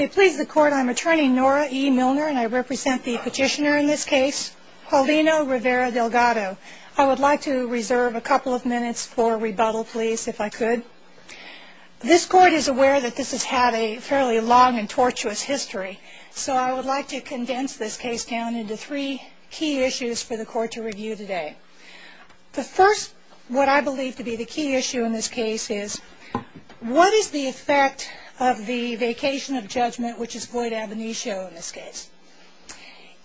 I'm attorney Nora E. Milner and I represent the petitioner in this case, Paulino Rivera-Delgado. I would like to reserve a couple of minutes for rebuttal, please, if I could. This court is aware that this has had a fairly long and tortuous history, so I would like to condense this case down into three key issues for the court to review today. The first, what I believe to be the key issue in this case is what is the effect of the vacation of judgment, which is void ab initio in this case?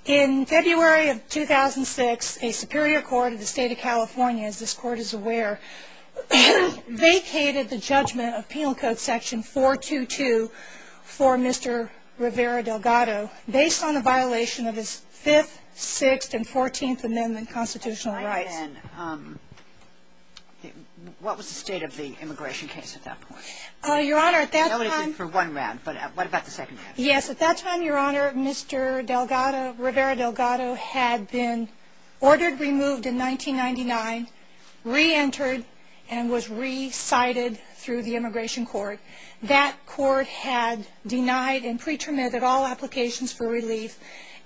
In February of 2006, a superior court of the state of California, as this court is aware, vacated the judgment of Penal Code section 422 for Mr. Rivera-Delgado based on a violation of his 5th, 6th, and 14th Amendment constitutional rights. And what was the state of the immigration case at that point? Your Honor, at that time... I'll leave it for one round, but what about the second round? Yes, at that time, Your Honor, Mr. Rivera-Delgado had been ordered removed in 1999, re-entered, and was re-cited through the immigration court. That court had denied and pre-terminated all applications for relief,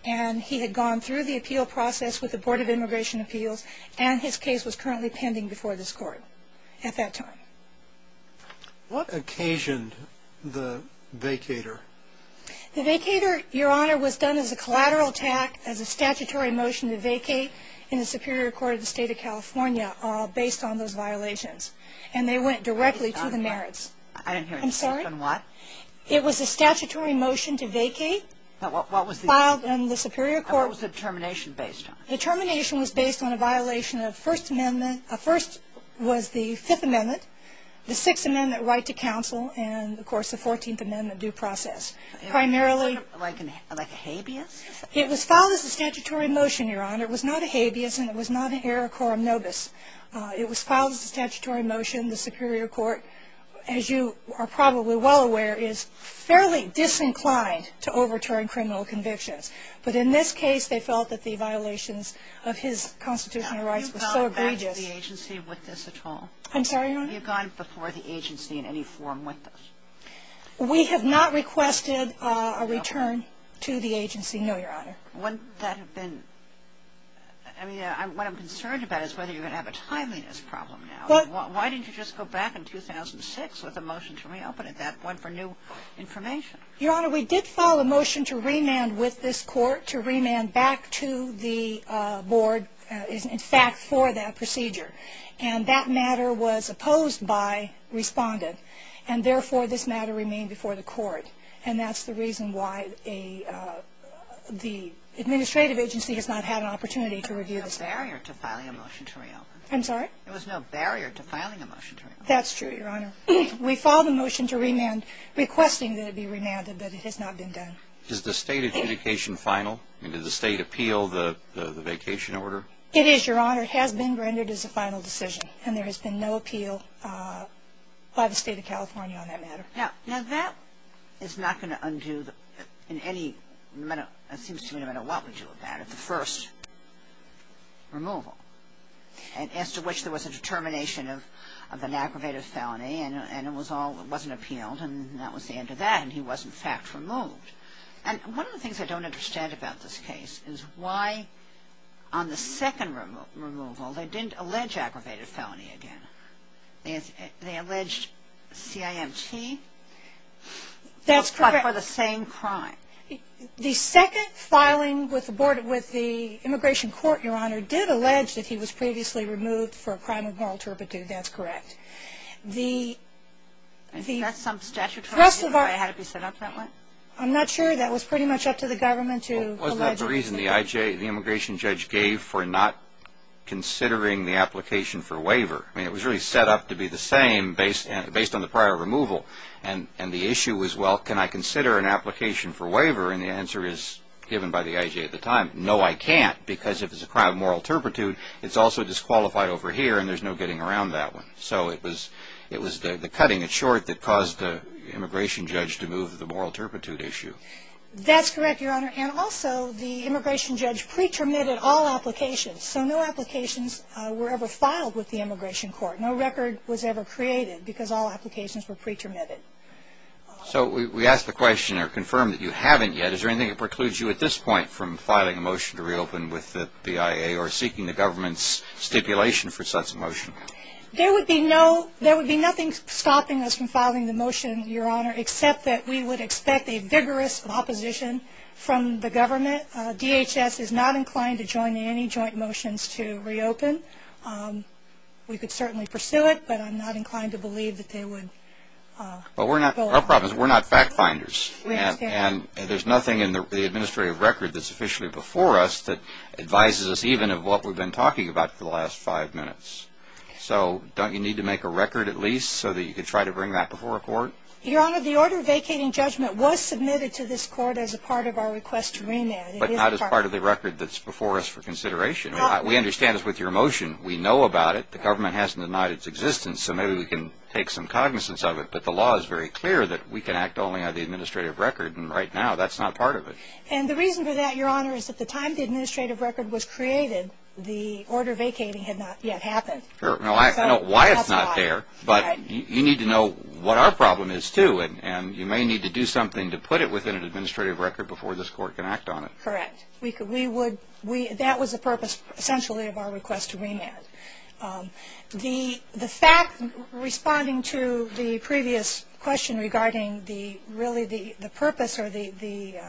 and he had gone through the appeal process with the Board of Immigration Appeals, and his case was currently pending before this court at that time. What occasioned the vacator? The vacator, Your Honor, was done as a collateral attack, as a statutory motion to vacate in the superior court of the state of California based on those violations, and they went directly to the merits. I didn't hear you. I'm sorry? On what? It was a statutory motion to vacate. What was the... Filed in the superior court... And what was the termination based on? The termination was based on a violation of First Amendment... First was the Fifth Amendment, the Sixth Amendment right to counsel, and, of course, the 14th Amendment due process. Primarily... Like a habeas? It was filed as a statutory motion, Your Honor. It was not a habeas, and it was not an error quorum nobis. It was filed as a statutory motion in the superior court. As you are probably well aware, he is fairly disinclined to overturn criminal convictions. But in this case, they felt that the violations of his constitutional rights were so egregious... Have you gone back to the agency with this at all? I'm sorry, Your Honor? Have you gone before the agency in any form with this? We have not requested a return to the agency, no, Your Honor. Wouldn't that have been... I mean, what I'm concerned about is whether you're going to have a timeliness problem now. Why didn't you just go back in 2006 with a motion to reopen at that point for new information? Your Honor, we did file a motion to remand with this court, to remand back to the board, in fact, for that procedure. And that matter was opposed by Respondent, and, therefore, this matter remained before the court. And that's the reason why the administrative agency has not had an opportunity to review this matter. There was no barrier to filing a motion to reopen. I'm sorry? There was no barrier to filing a motion to reopen. That's true, Your Honor. We filed a motion to remand, requesting that it be remanded, but it has not been done. Is the state adjudication final? I mean, did the state appeal the vacation order? It is, Your Honor. It has been rendered as a final decision, and there has been no appeal by the State of California on that matter. Now, that is not going to undo in any manner, it seems to me, no matter what we do with that, the first removal, as to which there was a determination of an aggravated felony, and it wasn't appealed, and that was the end of that, and he was, in fact, removed. And one of the things I don't understand about this case is why, on the second removal, they didn't allege aggravated felony again. They alleged CIMT, but for the same crime. The second filing with the Immigration Court, Your Honor, did allege that he was previously removed for a crime of moral turpitude. That's correct. I think that's some statute for why it had to be set up that way. I'm not sure. That was pretty much up to the government to allege. Well, was that the reason the immigration judge gave for not considering the application for waiver? I mean, it was really set up to be the same, based on the prior removal, and the issue was, well, can I consider an application for waiver? And the answer is, given by the IJ at the time, no, I can't, because if it's a crime of moral turpitude, it's also disqualified over here, and there's no getting around that one. So it was the cutting it short that caused the immigration judge to move the moral turpitude issue. That's correct, Your Honor, and also the immigration judge pre-terminated all applications, so no applications were ever filed with the Immigration Court. No record was ever created because all applications were pre-terminated. So we ask the question or confirm that you haven't yet. Is there anything that precludes you at this point from filing a motion to reopen with the PIA or seeking the government's stipulation for such a motion? There would be nothing stopping us from filing the motion, Your Honor, except that we would expect a vigorous opposition from the government. DHS is not inclined to join any joint motions to reopen. We could certainly pursue it, but I'm not inclined to believe that they would go along with it. Our problem is we're not fact-finders, and there's nothing in the administrative record that's officially before us that advises us even of what we've been talking about for the last five minutes. So don't you need to make a record at least so that you can try to bring that before a court? Your Honor, the order vacating judgment was submitted to this court as a part of our request to remand. But not as part of the record that's before us for consideration. We understand this with your motion. We know about it. The government hasn't denied its existence, so maybe we can take some cognizance of it. But the law is very clear that we can act only on the administrative record, and right now that's not part of it. And the reason for that, Your Honor, is at the time the administrative record was created, the order vacating had not yet happened. I know why it's not there, but you need to know what our problem is, too, and you may need to do something to put it within an administrative record before this court can act on it. Correct. That was the purpose, essentially, of our request to remand. The fact, responding to the previous question regarding really the purpose or the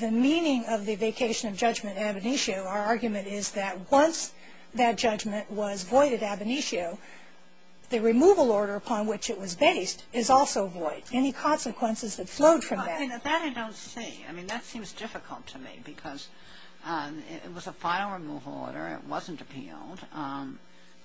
meaning of the vacation of judgment ab initio, our argument is that once that judgment was void at ab initio, the removal order upon which it was based is also void. Any consequences that flowed from that? That I don't see. I mean, that seems difficult to me because it was a final removal order. It wasn't appealed.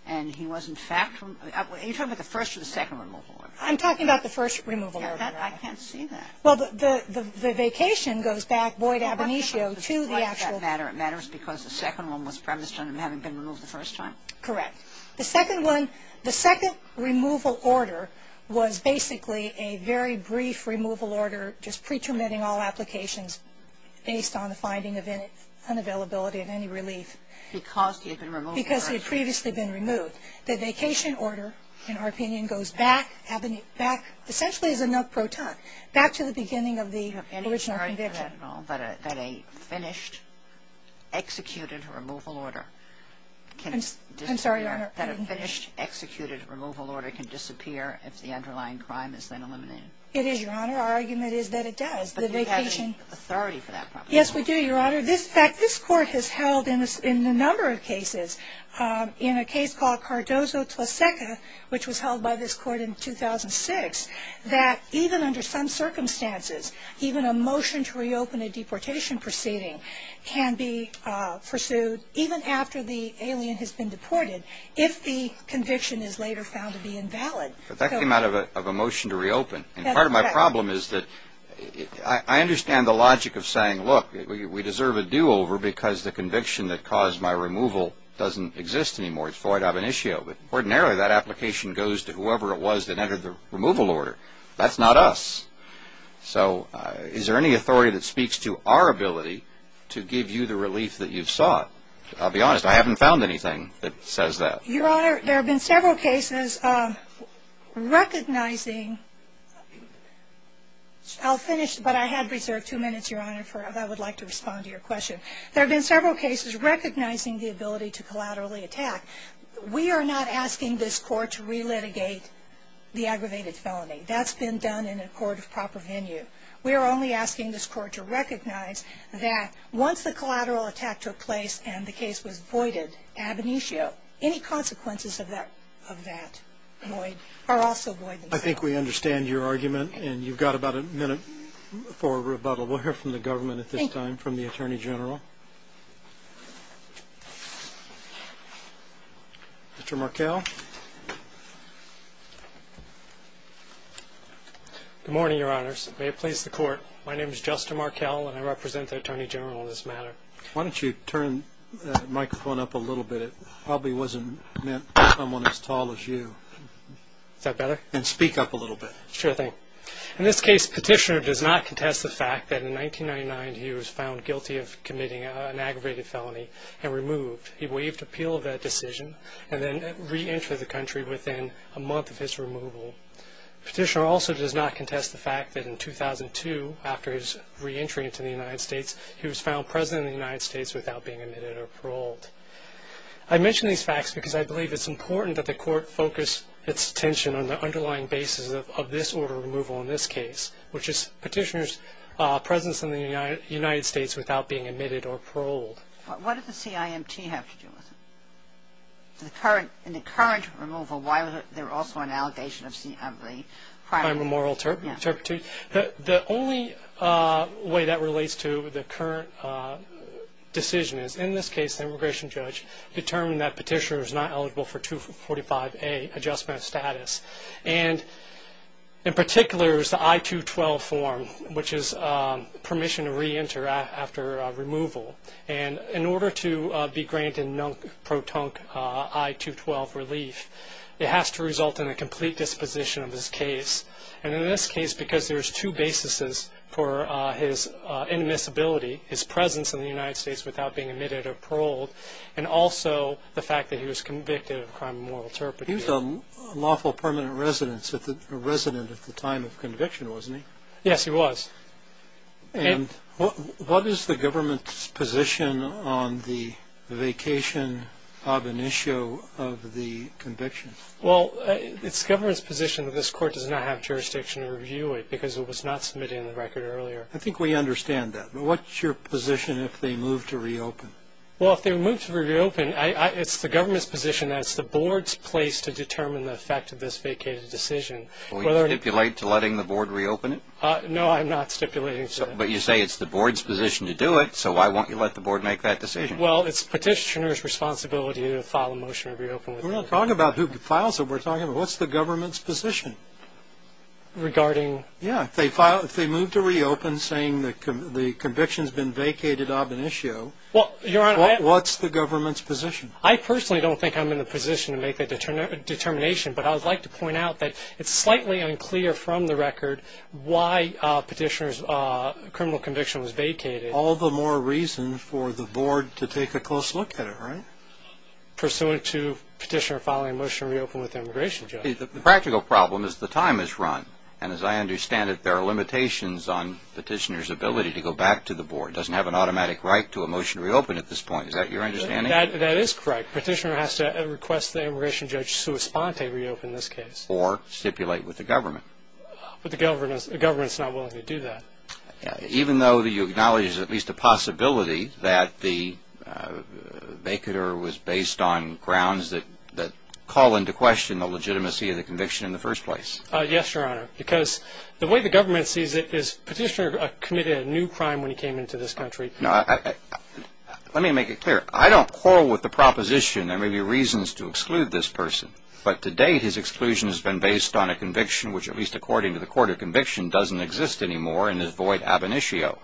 And he was, in fact, you're talking about the first or the second removal order? I'm talking about the first removal order. I can't see that. Well, the vacation goes back, void ab initio, to the actual. It matters because the second one was premised on him having been removed the first time? Correct. The second one, the second removal order, was basically a very brief removal order just pretermitting all applications based on the finding of unavailability and any relief. Because he had been removed first? Because he had previously been removed. The vacation order, in our opinion, goes back, ab initio, back, essentially as a note pro ton, back to the beginning of the original conviction. I don't understand that at all, that a finished, executed removal order can disappear if the underlying crime is then eliminated. It is, Your Honor. Our argument is that it does. But do you have any authority for that? Yes, we do, Your Honor. In fact, this Court has held in a number of cases, in a case called Cardozo-Tlaseka, which was held by this Court in 2006, that even under some circumstances, even a motion to reopen a deportation proceeding can be pursued, even after the alien has been deported, if the conviction is later found to be invalid. But that came out of a motion to reopen. And part of my problem is that I understand the logic of saying, look, we deserve a do-over because the conviction that caused my removal doesn't exist anymore. It's void ab initio. But ordinarily, that application goes to whoever it was that entered the removal order. That's not us. So is there any authority that speaks to our ability to give you the relief that you've sought? I'll be honest, I haven't found anything that says that. Your Honor, there have been several cases recognizing – I'll finish, but I had reserved two minutes, Your Honor, if I would like to respond to your question. There have been several cases recognizing the ability to collaterally attack. We are not asking this Court to relitigate the aggravated felony. That's been done in a court of proper venue. We are only asking this Court to recognize that once the collateral attack took place and the case was voided ab initio, any consequences of that void are also void. I think we understand your argument, and you've got about a minute for rebuttal. We'll hear from the government at this time, from the Attorney General. Mr. Markell? Good morning, Your Honors. May it please the Court, my name is Justin Markell, and I represent the Attorney General in this matter. Why don't you turn the microphone up a little bit? It probably wasn't meant for someone as tall as you. Is that better? And speak up a little bit. Sure thing. In this case, Petitioner does not contest the fact that in 1999 he was found guilty of committing an aggravated felony and removed. He waived appeal of that decision and then reentered the country within a month of his removal. Petitioner also does not contest the fact that in 2002, after his reentry into the United States, he was found President of the United States without being admitted or paroled. I mention these facts because I believe it's important that the Court focus its attention on the underlying basis of this order of removal in this case, which is Petitioner's presence in the United States without being admitted or paroled. What does the CIMT have to do with it? In the current removal, why was there also an allegation of the crime of immoral turpitude? The only way that relates to the current decision is, in this case, the immigration judge determined that Petitioner was not eligible for 245A, Adjustment of Status. In particular, it was the I-212 form, which is permission to reenter after removal. In order to be granted a non-protonic I-212 relief, it has to result in a complete disposition of his case. In this case, because there's two bases for his inadmissibility, his presence in the United States without being admitted or paroled, and also the fact that he was convicted of a crime of immoral turpitude. He was a lawful permanent resident at the time of conviction, wasn't he? Yes, he was. And what is the government's position on the vacation ab initio of the conviction? Well, it's the government's position that this Court does not have jurisdiction to review it because it was not submitted in the record earlier. I think we understand that. But what's your position if they move to reopen? Well, if they move to reopen, it's the government's position that it's the Board's place to determine the effect of this vacated decision. Will you stipulate to letting the Board reopen it? No, I'm not stipulating to that. But you say it's the Board's position to do it, so why won't you let the Board make that decision? Well, it's Petitioner's responsibility to file a motion to reopen. We're not talking about who files it. We're talking about what's the government's position? Regarding? Yeah, if they move to reopen saying the conviction's been vacated ab initio, what's the government's position? I personally don't think I'm in the position to make that determination, but I would like to point out that it's slightly unclear from the record why Petitioner's criminal conviction was vacated. All the more reason for the Board to take a close look at it, right? Pursuant to Petitioner filing a motion to reopen with the immigration judge. The practical problem is the time is run, and as I understand it, there are limitations on Petitioner's ability to go back to the Board. It doesn't have an automatic right to a motion to reopen at this point. Is that your understanding? That is correct. Petitioner has to request the immigration judge to respond to reopen this case. Or stipulate with the government. But the government's not willing to do that. Even though you acknowledge there's at least a possibility that the vacater was based on grounds that call into question the legitimacy of the conviction in the first place. Yes, Your Honor. Because the way the government sees it is Petitioner committed a new crime when he came into this country. Let me make it clear. I don't quarrel with the proposition there may be reasons to exclude this person. But to date, his exclusion has been based on a conviction, which at least according to the Court of Conviction doesn't exist anymore, and is void ab initio.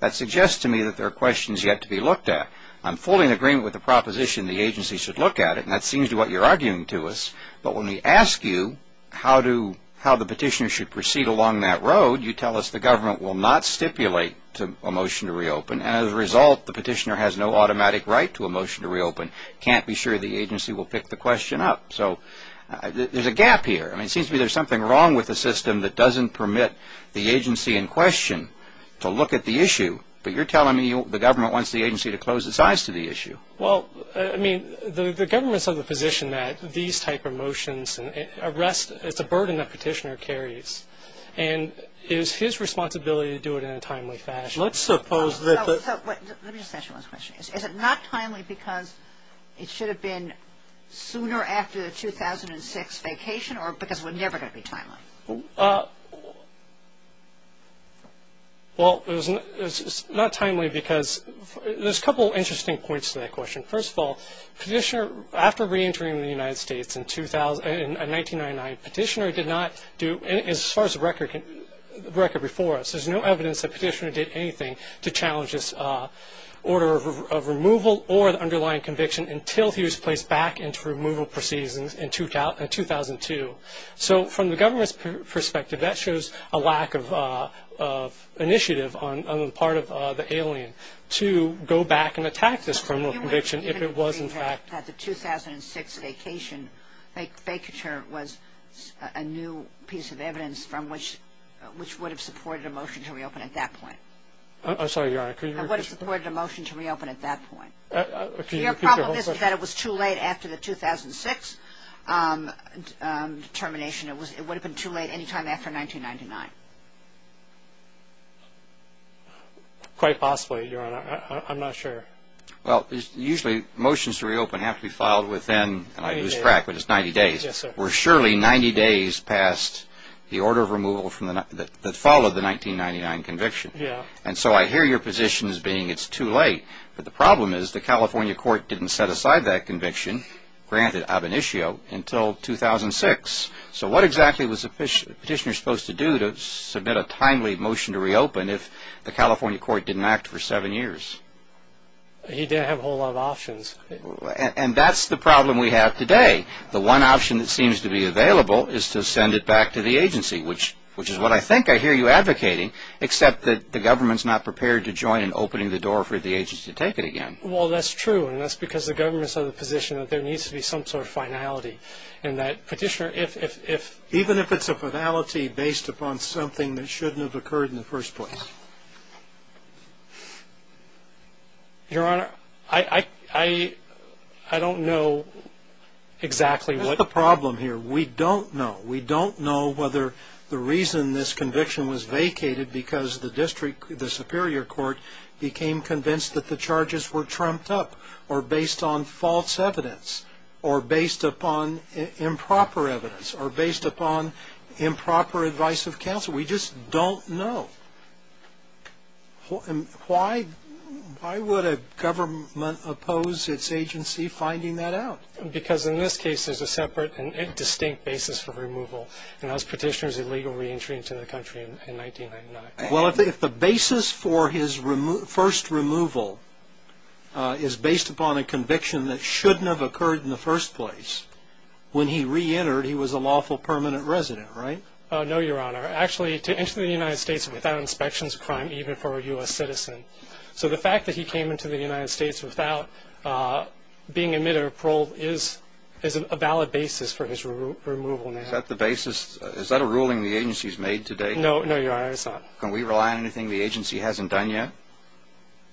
That suggests to me that there are questions yet to be looked at. I'm fully in agreement with the proposition the agency should look at it. And that seems to be what you're arguing to us. But when we ask you how the petitioner should proceed along that road, you tell us the government will not stipulate a motion to reopen. And as a result, the petitioner has no automatic right to a motion to reopen. Can't be sure the agency will pick the question up. So there's a gap here. It seems to me there's something wrong with the system that doesn't permit the agency in question to look at the issue. But you're telling me the government wants the agency to close its eyes to the issue. Well, I mean, the government's of the position that these type of motions, arrest, it's a burden that petitioner carries. And it is his responsibility to do it in a timely fashion. Let's suppose that the – Let me just ask you one question. Is it not timely because it should have been sooner after the 2006 vacation or because it was never going to be timely? Well, it's not timely because there's a couple of interesting points to that question. First of all, petitioner – after reentering the United States in 1999, petitioner did not do – as far as the record before us, there's no evidence that petitioner did anything to challenge this order of removal or the underlying conviction until he was placed back into removal proceedings in 2002. So from the government's perspective, that shows a lack of initiative on the part of the alien to go back and attack this criminal conviction if it was in fact – So you would agree that the 2006 vacation, vacature was a new piece of evidence from which – which would have supported a motion to reopen at that point? I'm sorry, Your Honor. I would have supported a motion to reopen at that point. Your problem is that it was too late after the 2006 termination. It would have been too late any time after 1999. Quite possibly, Your Honor. I'm not sure. Well, usually motions to reopen have to be filed within – and I lose track, but it's 90 days. We're surely 90 days past the order of removal that followed the 1999 conviction. And so I hear your position as being it's too late. But the problem is the California court didn't set aside that conviction, granted ab initio, until 2006. So what exactly was the petitioner supposed to do to submit a timely motion to reopen if the California court didn't act for seven years? He didn't have a whole lot of options. And that's the problem we have today. The one option that seems to be available is to send it back to the agency, which is what I think I hear you advocating, except that the government's not prepared to join in opening the door for the agency to take it again. Well, that's true, and that's because the government's of the position that there needs to be some sort of finality, and that petitioner, if – Even if it's a finality based upon something that shouldn't have occurred in the first place? Your Honor, I don't know exactly what – That's the problem here. We don't know. We don't know whether the reason this conviction was vacated because the district – the superior court became convinced that the charges were trumped up or based on false evidence or based upon improper evidence or based upon improper advice of counsel. We just don't know. Why would a government oppose its agency finding that out? Because in this case, there's a separate and distinct basis for removal, and that was petitioner's illegal reentry into the country in 1999. Well, if the basis for his first removal is based upon a conviction that shouldn't have occurred in the first place, when he reentered, he was a lawful permanent resident, right? No, Your Honor. Actually, to enter the United States without inspection is a crime even for a U.S. citizen. So the fact that he came into the United States without being admitted or paroled is a valid basis for his removal now. Is that the basis? Is that a ruling the agency's made today? No, Your Honor, it's not. Can we rely on anything the agency hasn't done yet?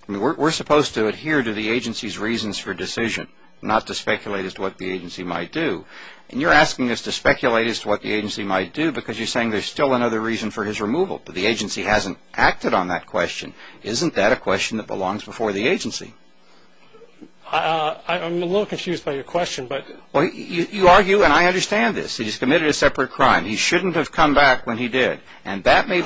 We're supposed to adhere to the agency's reasons for decision, not to speculate as to what the agency might do. And you're asking us to speculate as to what the agency might do because you're saying there's still another reason for his removal, but the agency hasn't acted on that question. Isn't that a question that belongs before the agency? I'm a little confused by your question. You argue, and I understand this, that he's committed a separate crime. He shouldn't have come back when he did, and that may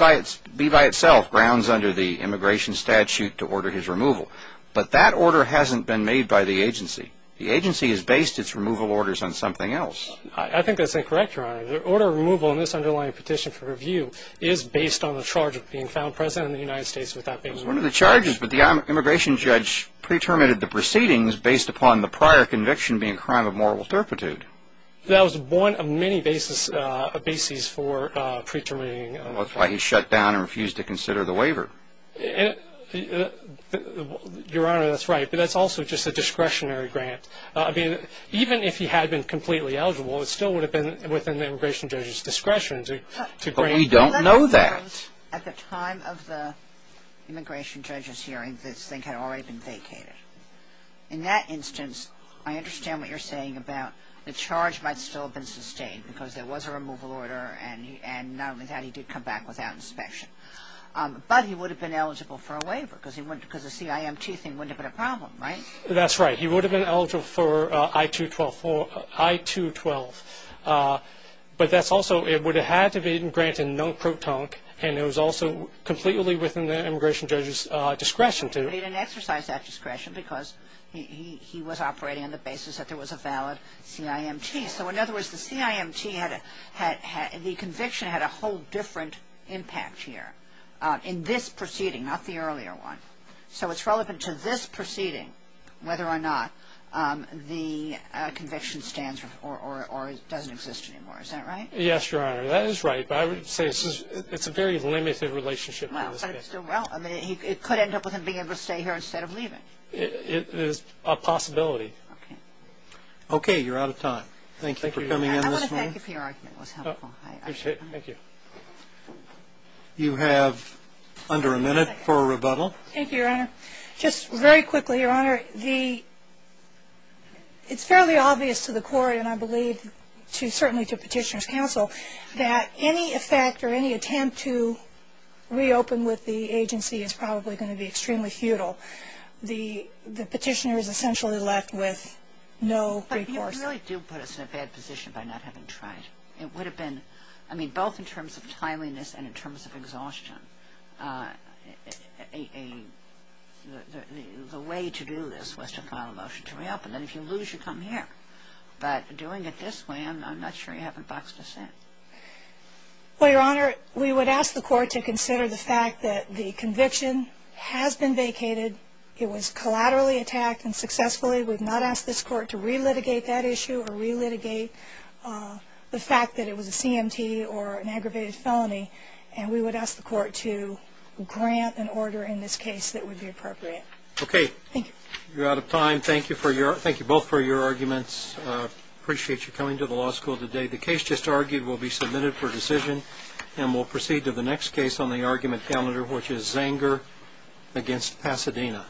be by itself grounds under the immigration statute to order his removal. But that order hasn't been made by the agency. The agency has based its removal orders on something else. I think that's incorrect, Your Honor. The order of removal in this underlying petition for review is based on the charge of being found president of the United States without being removed. It was one of the charges, but the immigration judge pre-terminated the proceedings based upon the prior conviction being a crime of moral turpitude. That was one of many bases for pre-terminating. That's why he shut down and refused to consider the waiver. Your Honor, that's right, but that's also just a discretionary grant. Even if he had been completely eligible, it still would have been within the immigration judge's discretion to grant him. We don't know that. At the time of the immigration judge's hearing, this thing had already been vacated. In that instance, I understand what you're saying about the charge might still have been sustained because there was a removal order, and not only that, he did come back without inspection. But he would have been eligible for a waiver because the CIMT thing wouldn't have been a problem, right? That's right. He would have been eligible for I-212. But that's also, it would have had to have been granted non-protonic, and it was also completely within the immigration judge's discretion to. But he didn't exercise that discretion because he was operating on the basis that there was a valid CIMT. So, in other words, the CIMT, the conviction had a whole different impact here in this proceeding, not the earlier one. So it's relevant to this proceeding whether or not the conviction stands or doesn't exist anymore. Is that right? Yes, Your Honor. That is right. But I would say it's a very limited relationship. Well, it could end up with him being able to stay here instead of leaving. It is a possibility. Okay. You're out of time. Thank you for coming in this morning. I want to thank you for your argument. It was helpful. I appreciate it. Thank you. You have under a minute for a rebuttal. Thank you, Your Honor. Just very quickly, Your Honor, it's fairly obvious to the Court, and I believe certainly to Petitioner's counsel, that any effect or any attempt to reopen with the agency is probably going to be extremely futile. The Petitioner is essentially left with no recourse. But you really do put us in a bad position by not having tried. It would have been, I mean, both in terms of timeliness and in terms of exhaustion, the way to do this was to file a motion to reopen. And if you lose, you come here. But doing it this way, I'm not sure you haven't boxed us in. Well, Your Honor, we would ask the Court to consider the fact that the conviction has been vacated. It was collaterally attacked and successfully. We've not asked this Court to relitigate that issue or relitigate the fact that it was a CMT or an aggravated felony. And we would ask the Court to grant an order in this case that would be appropriate. Okay. Thank you. You're out of time. Thank you both for your arguments. Appreciate you coming to the law school today. The case just argued will be submitted for decision. And we'll proceed to the next case on the argument calendar, which is Zanger v. Pasadena.